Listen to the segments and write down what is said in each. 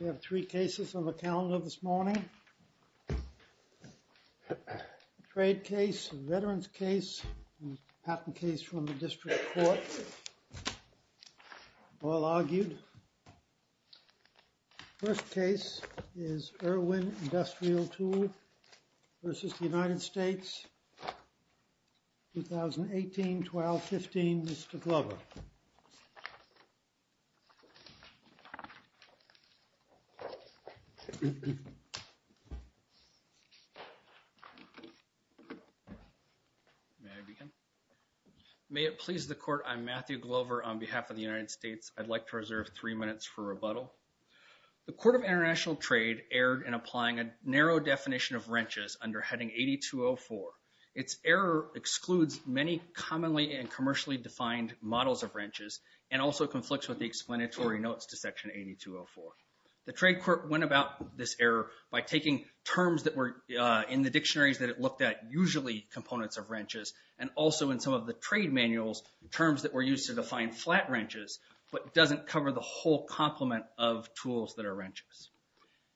We have three cases on the calendar this morning. A trade case, a veterans case, and a patent case from the district court. All argued. First case is Irwin Industrial Tool v. United States, 2018-12-15, Mr. Glover. May it please the court, I'm Matthew Glover on behalf of the United States. I'd like to reserve three minutes for rebuttal. The court of international trade erred in applying a narrow definition of wrenches under heading 8204. Its error excludes many commonly and commercially defined models of wrenches, and also conflicts with the explanatory notes to section 8204. The trade court went about this error by taking terms that were in the dictionaries that it looked at, usually components of wrenches, and also in some of the trade manuals, terms that were used to define flat wrenches, but doesn't cover the whole complement of tools that are wrenches.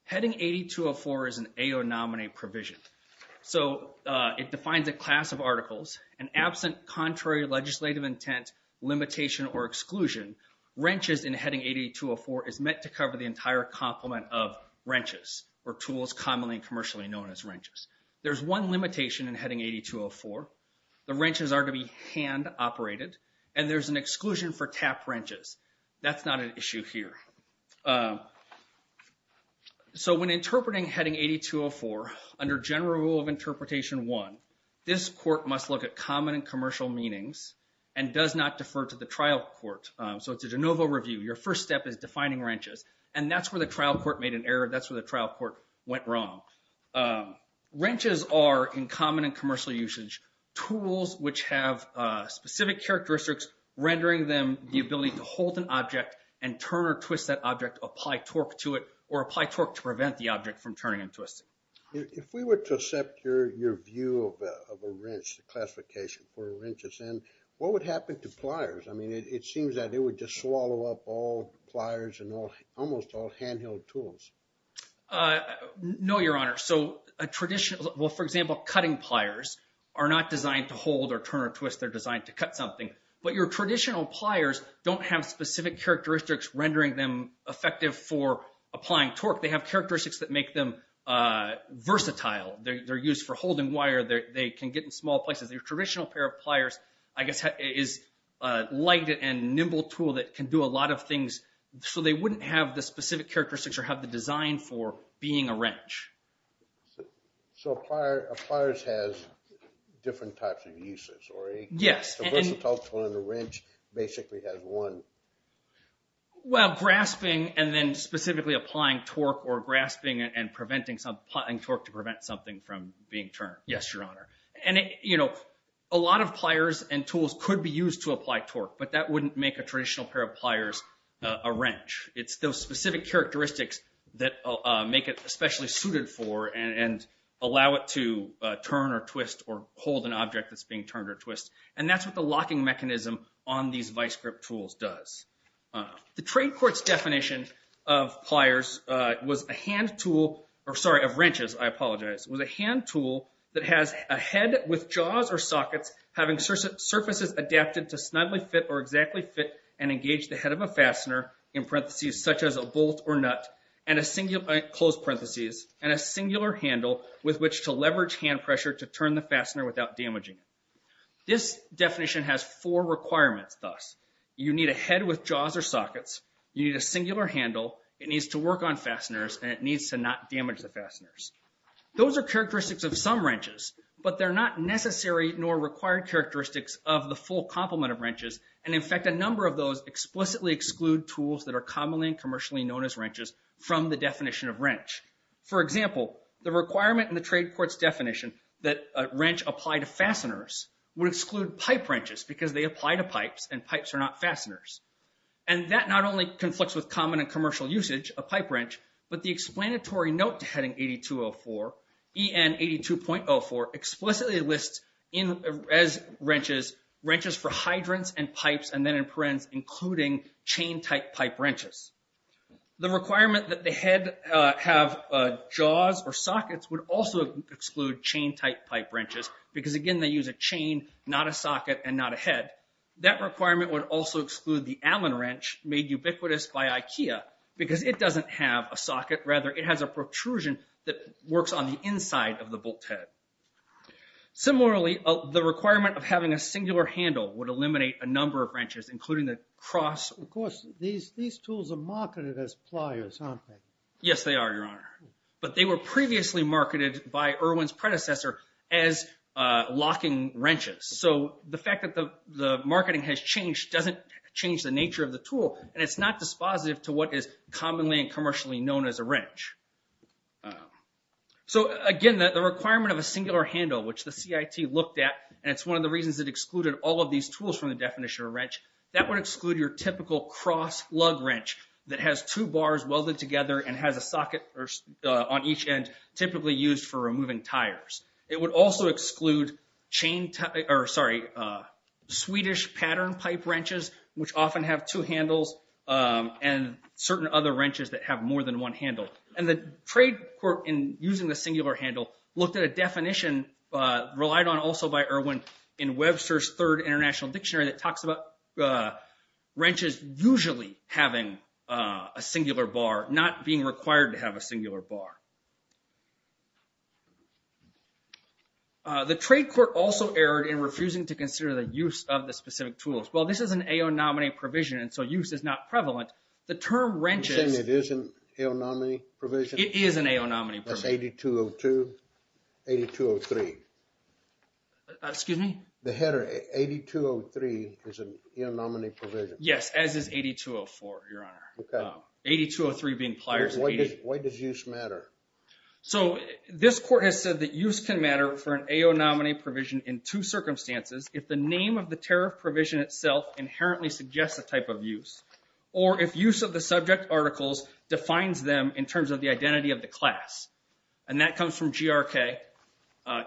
Heading 8204 is an AO nominee provision. So it defines a class of articles, and absent contrary legislative intent, limitation, or exclusion, wrenches in heading 8204 is meant to cover the entire complement of wrenches, or tools commonly and commercially known as wrenches. There's one limitation in heading 8204, the wrenches are to be hand operated, and there's an exclusion for tap wrenches. That's not an issue here. So when interpreting heading 8204, under general rule of interpretation one, this court must look at common and commercial meanings, and does not defer to the trial court. So it's a de novo review, your first step is defining wrenches, and that's where the trial court made an error, that's where the trial court went wrong. Wrenches are, in common and commercial usage, tools which have specific characteristics, rendering them the ability to hold an object and turn or twist that object, apply torque to it, or apply torque to prevent the object from turning and twisting. If we were to accept your view of a wrench, the classification for a wrench, what would happen to pliers? I mean, it seems that they would just swallow up all pliers and almost all handheld tools. No, Your Honor. So a traditional, well, for example, cutting pliers are not designed to hold or turn or twist, they're designed to cut something. But your traditional pliers don't have specific characteristics rendering them effective for applying torque. They have characteristics that make them versatile. They're used for holding wire, they can get in small places. Your traditional pair of pliers, I guess, is a light and nimble tool that can do a lot of things, so they wouldn't have the specific characteristics or have the design for being a wrench. So a pliers has different types of uses. Yes. A versatile tool and a wrench basically has one. Well, grasping and then specifically applying torque or grasping and applying torque to prevent something from being turned. Yes, Your Honor. And, you know, a lot of pliers and tools could be used to apply torque, but that wouldn't make a traditional pair of pliers a wrench. It's those specific characteristics that make it especially suited for and allow it to turn or twist or hold an object that's being turned or twist. And that's what the locking mechanism on these vice grip tools does. The trade court's definition of pliers was a hand tool, or sorry, of wrenches, I apologize, was a hand tool that has a head with jaws or sockets having surfaces adapted to snugly fit or exactly fit and engage the head of a fastener in parentheses such as a bolt or nut and a singular, close parentheses, and a singular handle with which to leverage hand pressure to turn the fastener without damaging it. This definition has four requirements thus. You need a head with jaws or sockets, you need a singular handle, it needs to work on fasteners, and it needs to not damage the fasteners. Those are characteristics of some wrenches, but they're not necessary nor required characteristics of the full complement of wrenches and, in fact, a number of those explicitly exclude tools that are commonly and commercially known as wrenches from the definition of wrench. For example, the requirement in the trade court's definition that a wrench apply to fasteners would exclude pipe wrenches because they apply to pipes and pipes are not fasteners. And that not only conflicts with common and commercial usage of pipe wrench, but the explanatory note to Heading 8204, EN 82.04, explicitly lists as wrenches, wrenches for hydrants and pipes, and then in parens, including chain-type pipe wrenches. The requirement that the head have jaws or sockets would also exclude chain-type pipe wrenches because, again, they use a chain, not a socket, and not a head. That requirement would also exclude the Allen wrench made ubiquitous by IKEA because it doesn't have a socket. Rather, it has a protrusion that works on the inside of the bolt head. Similarly, the requirement of having a singular handle would eliminate a number of wrenches, including the cross. Of course, these tools are marketed as pliers, aren't they? Yes, they are, Your Honor. But they were previously marketed by Irwin's predecessor as locking wrenches. So the fact that the marketing has changed doesn't change the nature of the tool, and it's not dispositive to what is commonly and commercially known as a wrench. So, again, the requirement of a singular handle, which the CIT looked at, and it's one of the reasons it excluded all of these tools from the definition of a wrench, that would exclude your typical cross lug wrench that has two bars welded together and has a socket on each end, typically used for removing tires. It would also exclude Swedish pattern pipe wrenches, which often have two handles, and certain other wrenches that have more than one handle. And the trade court, in using the singular handle, looked at a definition relied on also by Irwin in Webster's Third International Dictionary that talks about wrenches usually having a singular bar, not being required to have a singular bar. The trade court also erred in refusing to consider the use of the specific tools. Well, this is an AO nominee provision, and so use is not prevalent. The term wrenches... You're saying it isn't AO nominee provision? It is an AO nominee provision. That's 8202, 8203. Excuse me? The header 8203 is an AO nominee provision. Yes, as is 8204, Your Honor. Okay. 8203 being pliers. Why does use matter? So this court has said that use can matter for an AO nominee provision in two circumstances, if the name of the tariff provision itself inherently suggests a type of use, or if use of the subject articles defines them in terms of the identity of the class. And that comes from GRK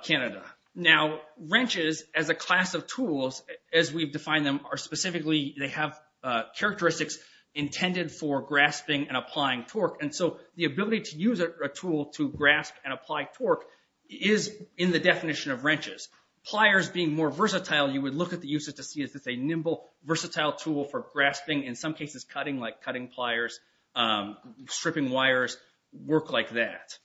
Canada. Now, wrenches, as a class of tools, as we've defined them, are specifically...they have characteristics intended for grasping and applying torque. And so the ability to use a tool to grasp and apply torque is in the definition of wrenches. Pliers being more versatile, you would look at the uses to see if it's a nimble, versatile tool for grasping, in some cases cutting, like cutting pliers, stripping wires, work like that.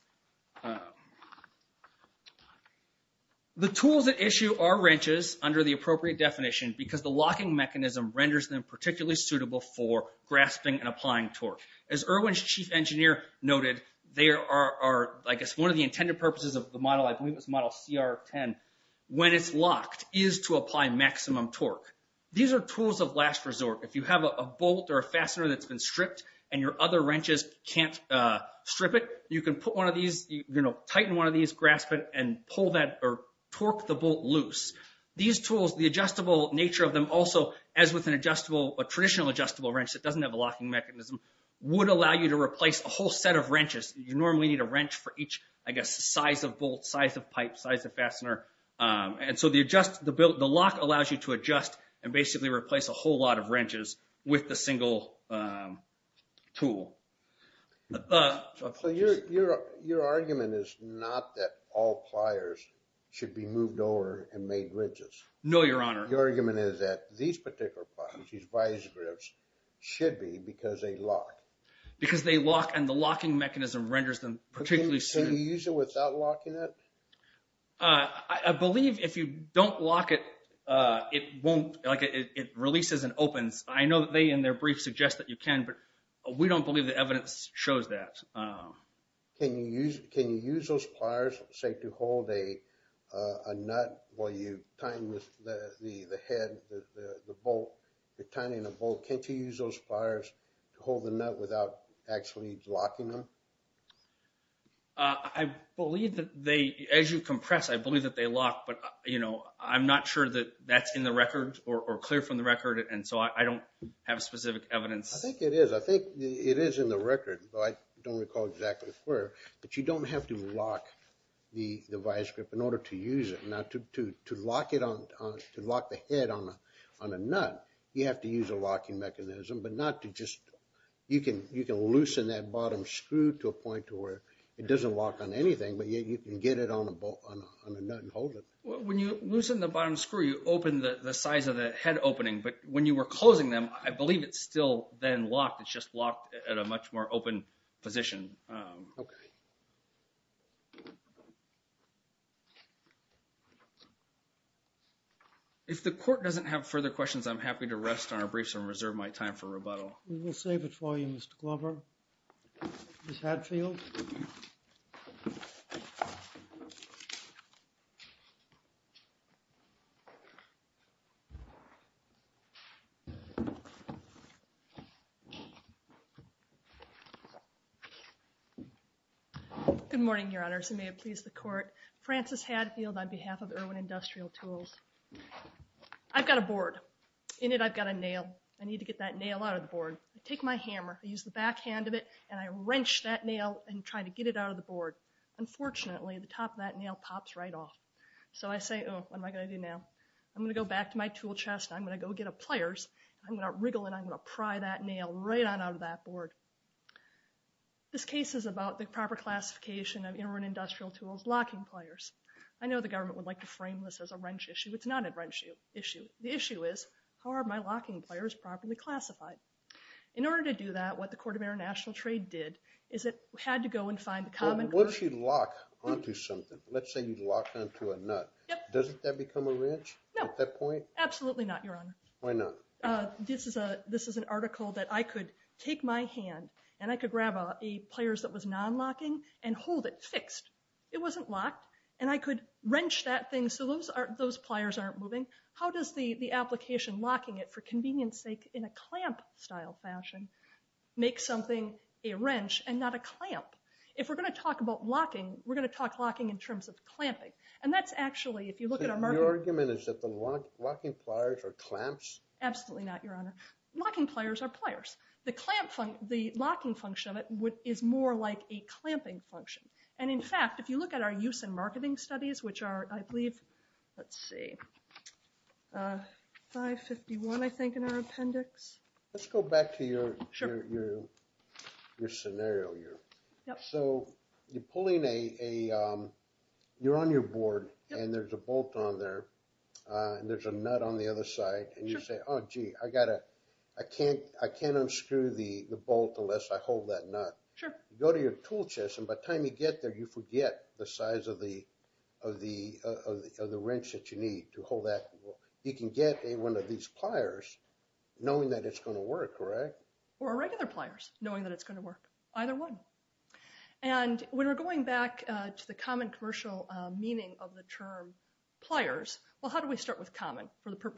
The tools at issue are wrenches under the appropriate definition because the locking mechanism renders them particularly suitable for grasping and applying torque. As Irwin's chief engineer noted, they are, I guess, one of the intended purposes of the model, I believe it's model CR10, when it's locked, is to apply maximum torque. These are tools of last resort. If you have a bolt or a fastener that's been stripped and your other wrenches can't strip it, you can put one of these, tighten one of these, grasp it, and pull that or torque the bolt loose. These tools, the adjustable nature of them also, as with an adjustable, a traditional adjustable wrench that doesn't have a locking mechanism, would allow you to replace a whole set of wrenches. You normally need a wrench for each, I guess, size of bolt, size of pipe, size of fastener. And so the lock allows you to adjust and basically replace a whole lot of wrenches with the single tool. So your argument is not that all pliers should be moved over and made wrenches? No, Your Honor. Your argument is that these particular pliers, these vise grips, should be because they lock. Because they lock and the locking mechanism renders them particularly secure. Can you use it without locking it? I believe if you don't lock it, it releases and opens. I know that they, in their brief, suggest that you can, but we don't believe the evidence shows that. Can you use those pliers, say, to hold a nut while you're tying the bolt? Can't you use those pliers to hold the nut without actually locking them? I believe that they, as you compress, I believe that they lock, but I'm not sure that that's in the record or clear from the record, and so I don't have specific evidence. I think it is. I think it is in the record, but I don't recall exactly where. But you don't have to lock the vise grip in order to use it. Now, to lock the head on a nut, you have to use a locking mechanism, but not to just, you can loosen that bottom screw to a point to where it doesn't lock on anything, but yet you can get it on a nut and hold it. When you loosen the bottom screw, you open the size of the head opening, but when you were closing them, I believe it's still then locked. It's just locked at a much more open position. If the court doesn't have further questions, I'm happy to rest on our briefs and reserve my time for rebuttal. We will save it for you, Mr. Glover. Ms. Hadfield? Good morning, Your Honors, and may it please the court. Frances Hadfield on behalf of Irwin Industrial Tools. I've got a board. In it I've got a nail. I need to get that nail out of the board. I take my hammer, I use the back hand of it, and I wrench that nail and try to get it out of the board. Unfortunately, the top of that nail pops right off. So I say, oh, what am I going to do now? I'm going to go back to my tool chest, I'm going to go get a pliers, I'm going to wriggle and I'm going to pry that nail right on out of that board. This case is about the proper classification of Irwin Industrial Tools locking pliers. I know the government would like to frame this as a wrench issue. It's not a wrench issue. The issue is, how are my locking pliers properly classified? In order to do that, what the Court of International Trade did is it had to go and find the common... Once you lock onto something, let's say you lock onto a nut, doesn't that become a wrench at that point? No, absolutely not, Your Honor. Why not? This is an article that I could take my hand and I could grab a pliers that was non-locking and hold it fixed. It wasn't locked. And I could wrench that thing so those pliers aren't moving. How does the application locking it, for convenience sake, in a clamp-style fashion, make something a wrench and not a clamp? If we're going to talk about locking, we're going to talk locking in terms of clamping. And that's actually, if you look at our market... So your argument is that the locking pliers are clamps? Absolutely not, Your Honor. Locking pliers are pliers. The locking function of it is more like a clamping function. And, in fact, if you look at our use in marketing studies, which are, I believe, let's see, 551, I think, in our appendix. Let's go back to your scenario here. So you're pulling a... You're on your board and there's a bolt on there and there's a nut on the other side. And you say, oh, gee, I can't unscrew the bolt unless I hold that nut. You go to your tool chest and by the time you get there, you forget the size of the wrench that you need to hold that. You can get one of these pliers knowing that it's going to work, correct? Or regular pliers, knowing that it's going to work. Either one. And when we're going back to the common commercial meaning of the term pliers, well, how do we start with common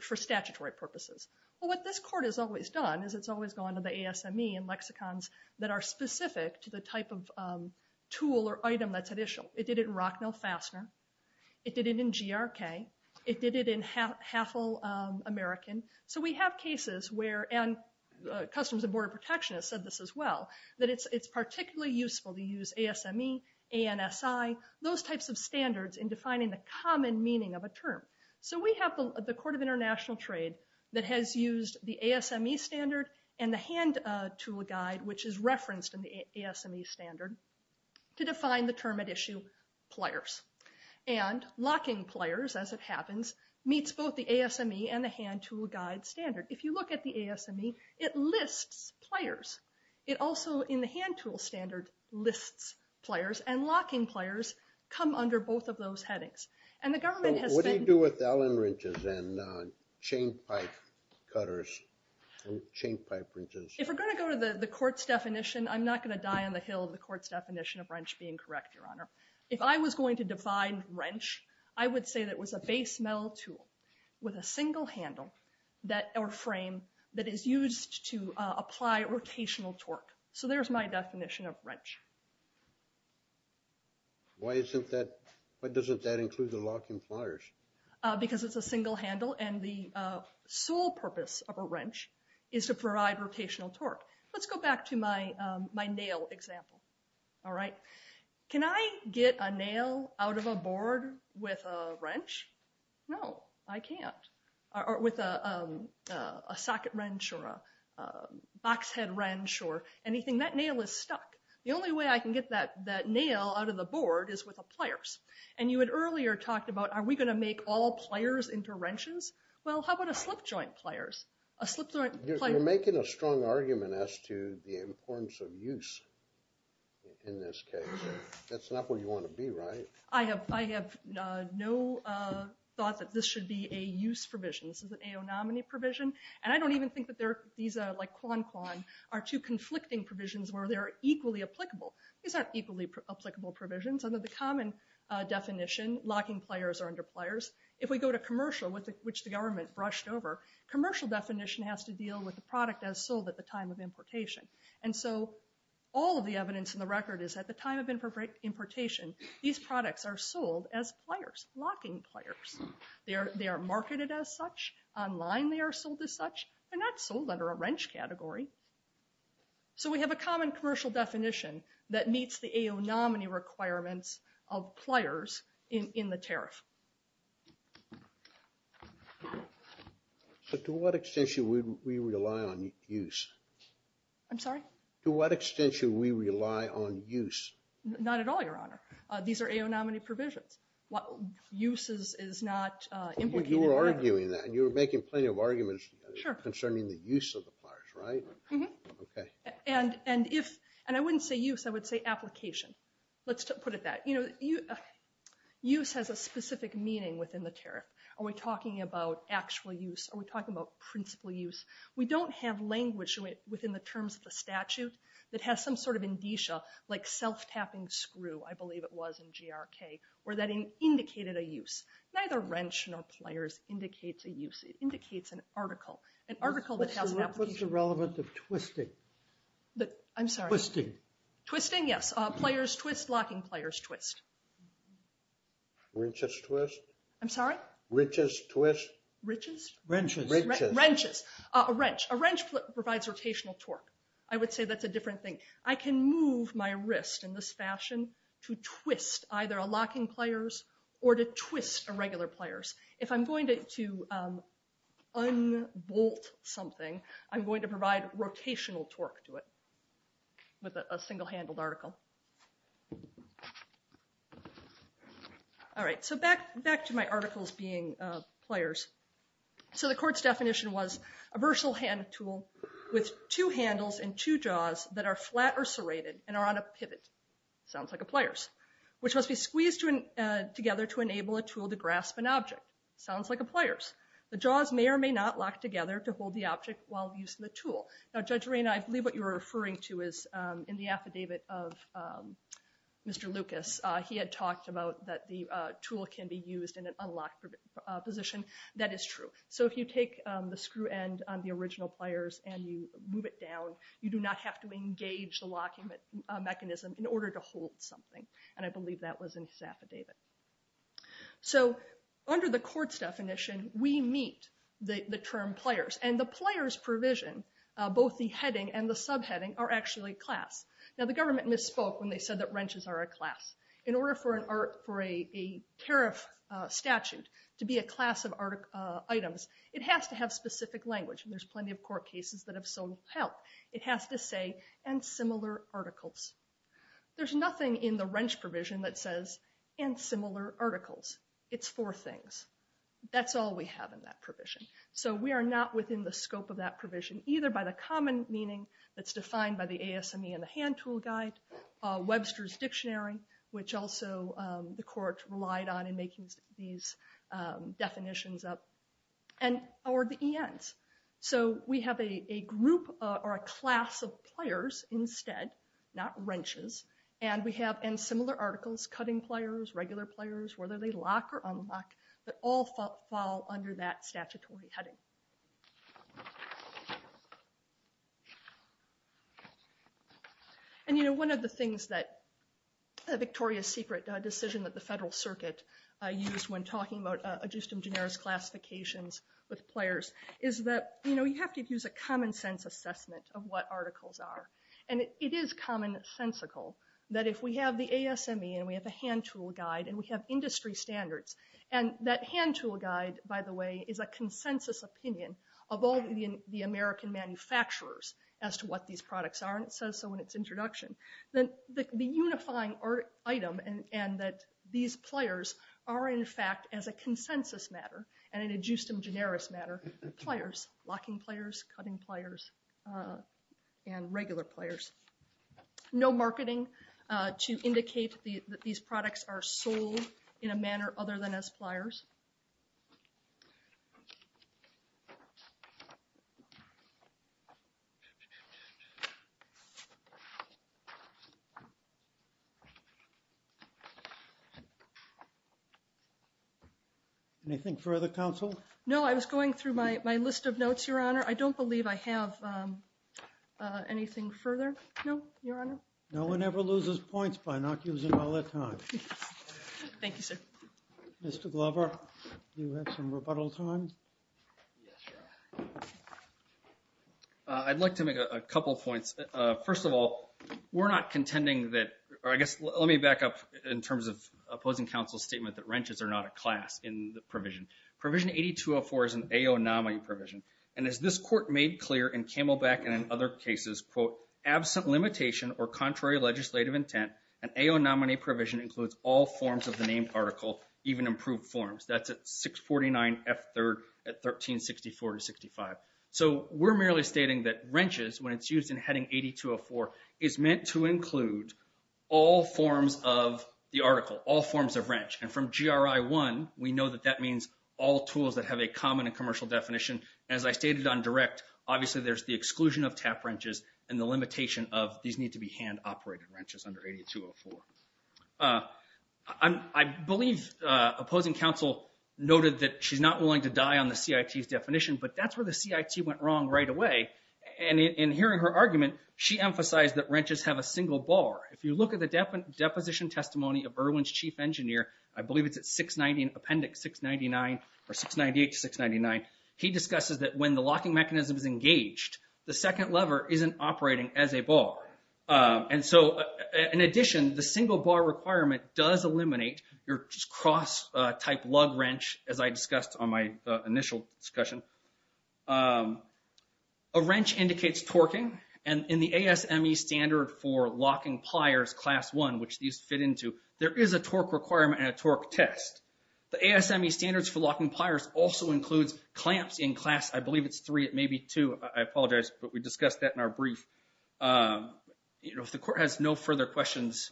for statutory purposes? Well, what this court has always done is it's always gone to the ASME and lexicons that are specific to the type of tool or item that's additional. It did it in Rocknell Fastener. It did it in GRK. It did it in Halfel American. So we have cases where, and Customs and Border Protection has said this as well, that it's particularly useful to use ASME, ANSI, those types of standards in defining the common meaning of a term. So we have the Court of International Trade that has used the ASME standard and the hand tool guide, which is referenced in the ASME standard, to define the term at issue pliers. And locking pliers, as it happens, meets both the ASME and the hand tool guide standard. If you look at the ASME, it lists pliers. It also, in the hand tool standard, lists pliers. And locking pliers come under both of those headings. So what do you do with Allen wrenches and chain pipe cutters and chain pipe wrenches? If we're going to go to the court's definition, I'm not going to die on the hill of the court's definition of wrench being correct, Your Honor. If I was going to define wrench, I would say that it was a base metal tool with a single handle or frame that is used to apply rotational torque. Why doesn't that include the locking pliers? Because it's a single handle and the sole purpose of a wrench is to provide rotational torque. Let's go back to my nail example. Can I get a nail out of a board with a socket wrench or a box head wrench or anything? That nail is stuck. The only way I can get that nail out of the board is with pliers. And you had earlier talked about, are we going to make all pliers into wrenches? Well, how about a slip joint pliers? You're making a strong argument as to the importance of use in this case. That's not where you want to be, right? I have no thought that this should be a use provision. This is an AONOMNY provision. And I don't even think that these, like Quan Quan, are two conflicting provisions where they're equally applicable. These aren't equally applicable provisions. Under the common definition, locking pliers are under pliers. If we go to commercial, which the government brushed over, commercial definition has to deal with the product as sold at the time of importation. And so all of the evidence in the record is at the time of importation, these products are sold as pliers, locking pliers. They are marketed as such. Online they are sold as such. They're not sold under a wrench category. So we have a common commercial definition that meets the AONOMNY requirements of pliers in the tariff. But to what extent should we rely on use? I'm sorry? To what extent should we rely on use? Not at all, Your Honor. These are AONOMNY provisions. Use is not implicated. You were arguing that. You were making plenty of arguments concerning the use of the pliers, right? And I wouldn't say use. I would say application. Let's put it that. Use has a specific meaning within the tariff. Are we talking about actual use? Are we talking about principal use? We don't have language within the terms of the statute that has some sort of indicia, like self-tapping screw, I believe it was in GRK, or that indicated a use. Neither wrench nor pliers indicates a use. It indicates an article. An article that has an application. What's the relevance of twisting? I'm sorry? Twisting. Twisting, yes. Pliers twist, locking pliers twist. Wrenches twist? I'm sorry? Wrenches twist? Wrenches? Wrenches. Wrenches. A wrench. A wrench provides rotational torque. I would say that's a different thing. I can move my wrist in this fashion to twist either a locking pliers or to twist a regular pliers. If I'm going to unbolt something, I'm going to provide rotational torque to it with a single-handled article. All right. So back to my articles being pliers. So the court's definition was a versatile hand tool with two handles and two jaws that are flat or serrated and are on a pivot. Sounds like a pliers. Which must be squeezed together to enable a tool to grasp an object. Sounds like a pliers. The jaws may or may not lock together to hold the object while using the tool. Now, Judge Rana, I believe what you were referring to is in the affidavit of Mr. Lucas. He had talked about that the tool can be used in an unlocked position. That is true. So if you take the screw end on the original pliers and you move it down, you do not have to engage the locking mechanism in order to hold something. And I believe that was in his affidavit. So under the court's definition, we meet the term pliers. And the pliers provision, both the heading and the subheading, are actually class. Now, the government misspoke when they said that wrenches are a class. In order for a tariff statute to be a class of items, it has to have specific language. And there's plenty of court cases that have solved that. It has to say, and similar articles. There's nothing in the wrench provision that says, and similar articles. It's four things. That's all we have in that provision. So we are not within the scope of that provision, either by the common meaning that's defined by the ASME and the hand tool guide, Webster's Dictionary, which also the court relied on in making these definitions up, or the ENs. So we have a group or a class of pliers instead, not wrenches. And we have, in similar articles, cutting pliers, regular pliers, whether they lock or unlock, that all fall under that statutory heading. And, you know, one of the things that the Victoria's Secret decision that the Federal Circuit used when talking about ad justum generis classifications with pliers is that, you know, you have to use a common sense assessment of what articles are. And it is commonsensical that if we have the ASME, and we have the hand tool guide, and we have industry standards, and that hand tool guide, by the way, is a consensus opinion of all the American manufacturers as to what these products are. And it says so in its introduction. The unifying item, and that these pliers are, in fact, as a consensus matter, and an ad justum generis matter, pliers, locking pliers, cutting pliers, and regular pliers. No marketing to indicate that these products are sold in a manner other than as pliers. Anything further, counsel? No, I was going through my list of notes, Your Honor. I don't believe I have anything further. No, Your Honor. No one ever loses points by not using all their time. Thank you, sir. Mr. Glover, do you have some rebuttal time? I'd like to make a couple points. First of all, we're not contending that, or I guess let me back up in terms of opposing counsel's statement that wrenches are not a class in the provision. Provision 8204 is an AO nominee provision, and as this court made clear in Camelback and in other cases, quote, absent limitation or contrary legislative intent, an AO nominee provision includes all forms of the named article, even improved forms. That's at 649F3rd at 1364-65. So we're merely stating that wrenches, when it's used in heading 8204, is meant to include all forms of the article, all forms of wrench. And from GRI 1, we know that that means all tools that have a common and commercial definition. As I stated on direct, obviously there's the exclusion of tap wrenches and the limitation of these need to be hand-operated wrenches under 8204. I believe opposing counsel noted that she's not willing to die on the CIT's definition, but that's where the CIT went wrong right away. And in hearing her argument, she emphasized that wrenches have a single bar. If you look at the deposition testimony of Irwin's chief engineer, I believe it's at 690, appendix 699, or 698 to 699, he discusses that when the locking mechanism is engaged, the second lever isn't operating as a bar. And so, in addition, the single bar requirement does eliminate your cross-type lug wrench, as I discussed on my initial discussion. A wrench indicates torquing, and in the ASME standard for locking pliers class 1, which these fit into, there is a torque requirement and a torque test. The ASME standards for locking pliers also includes clamps in class, I believe it's 3, it may be 2, I apologize, but we discussed that in our brief. If the court has no further questions,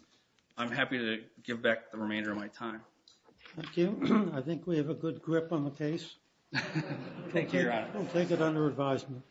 I'm happy to give back the remainder of my time. Thank you. I think we have a good grip on the case. Thank you, Your Honor. We'll take it under advisement. Thank you.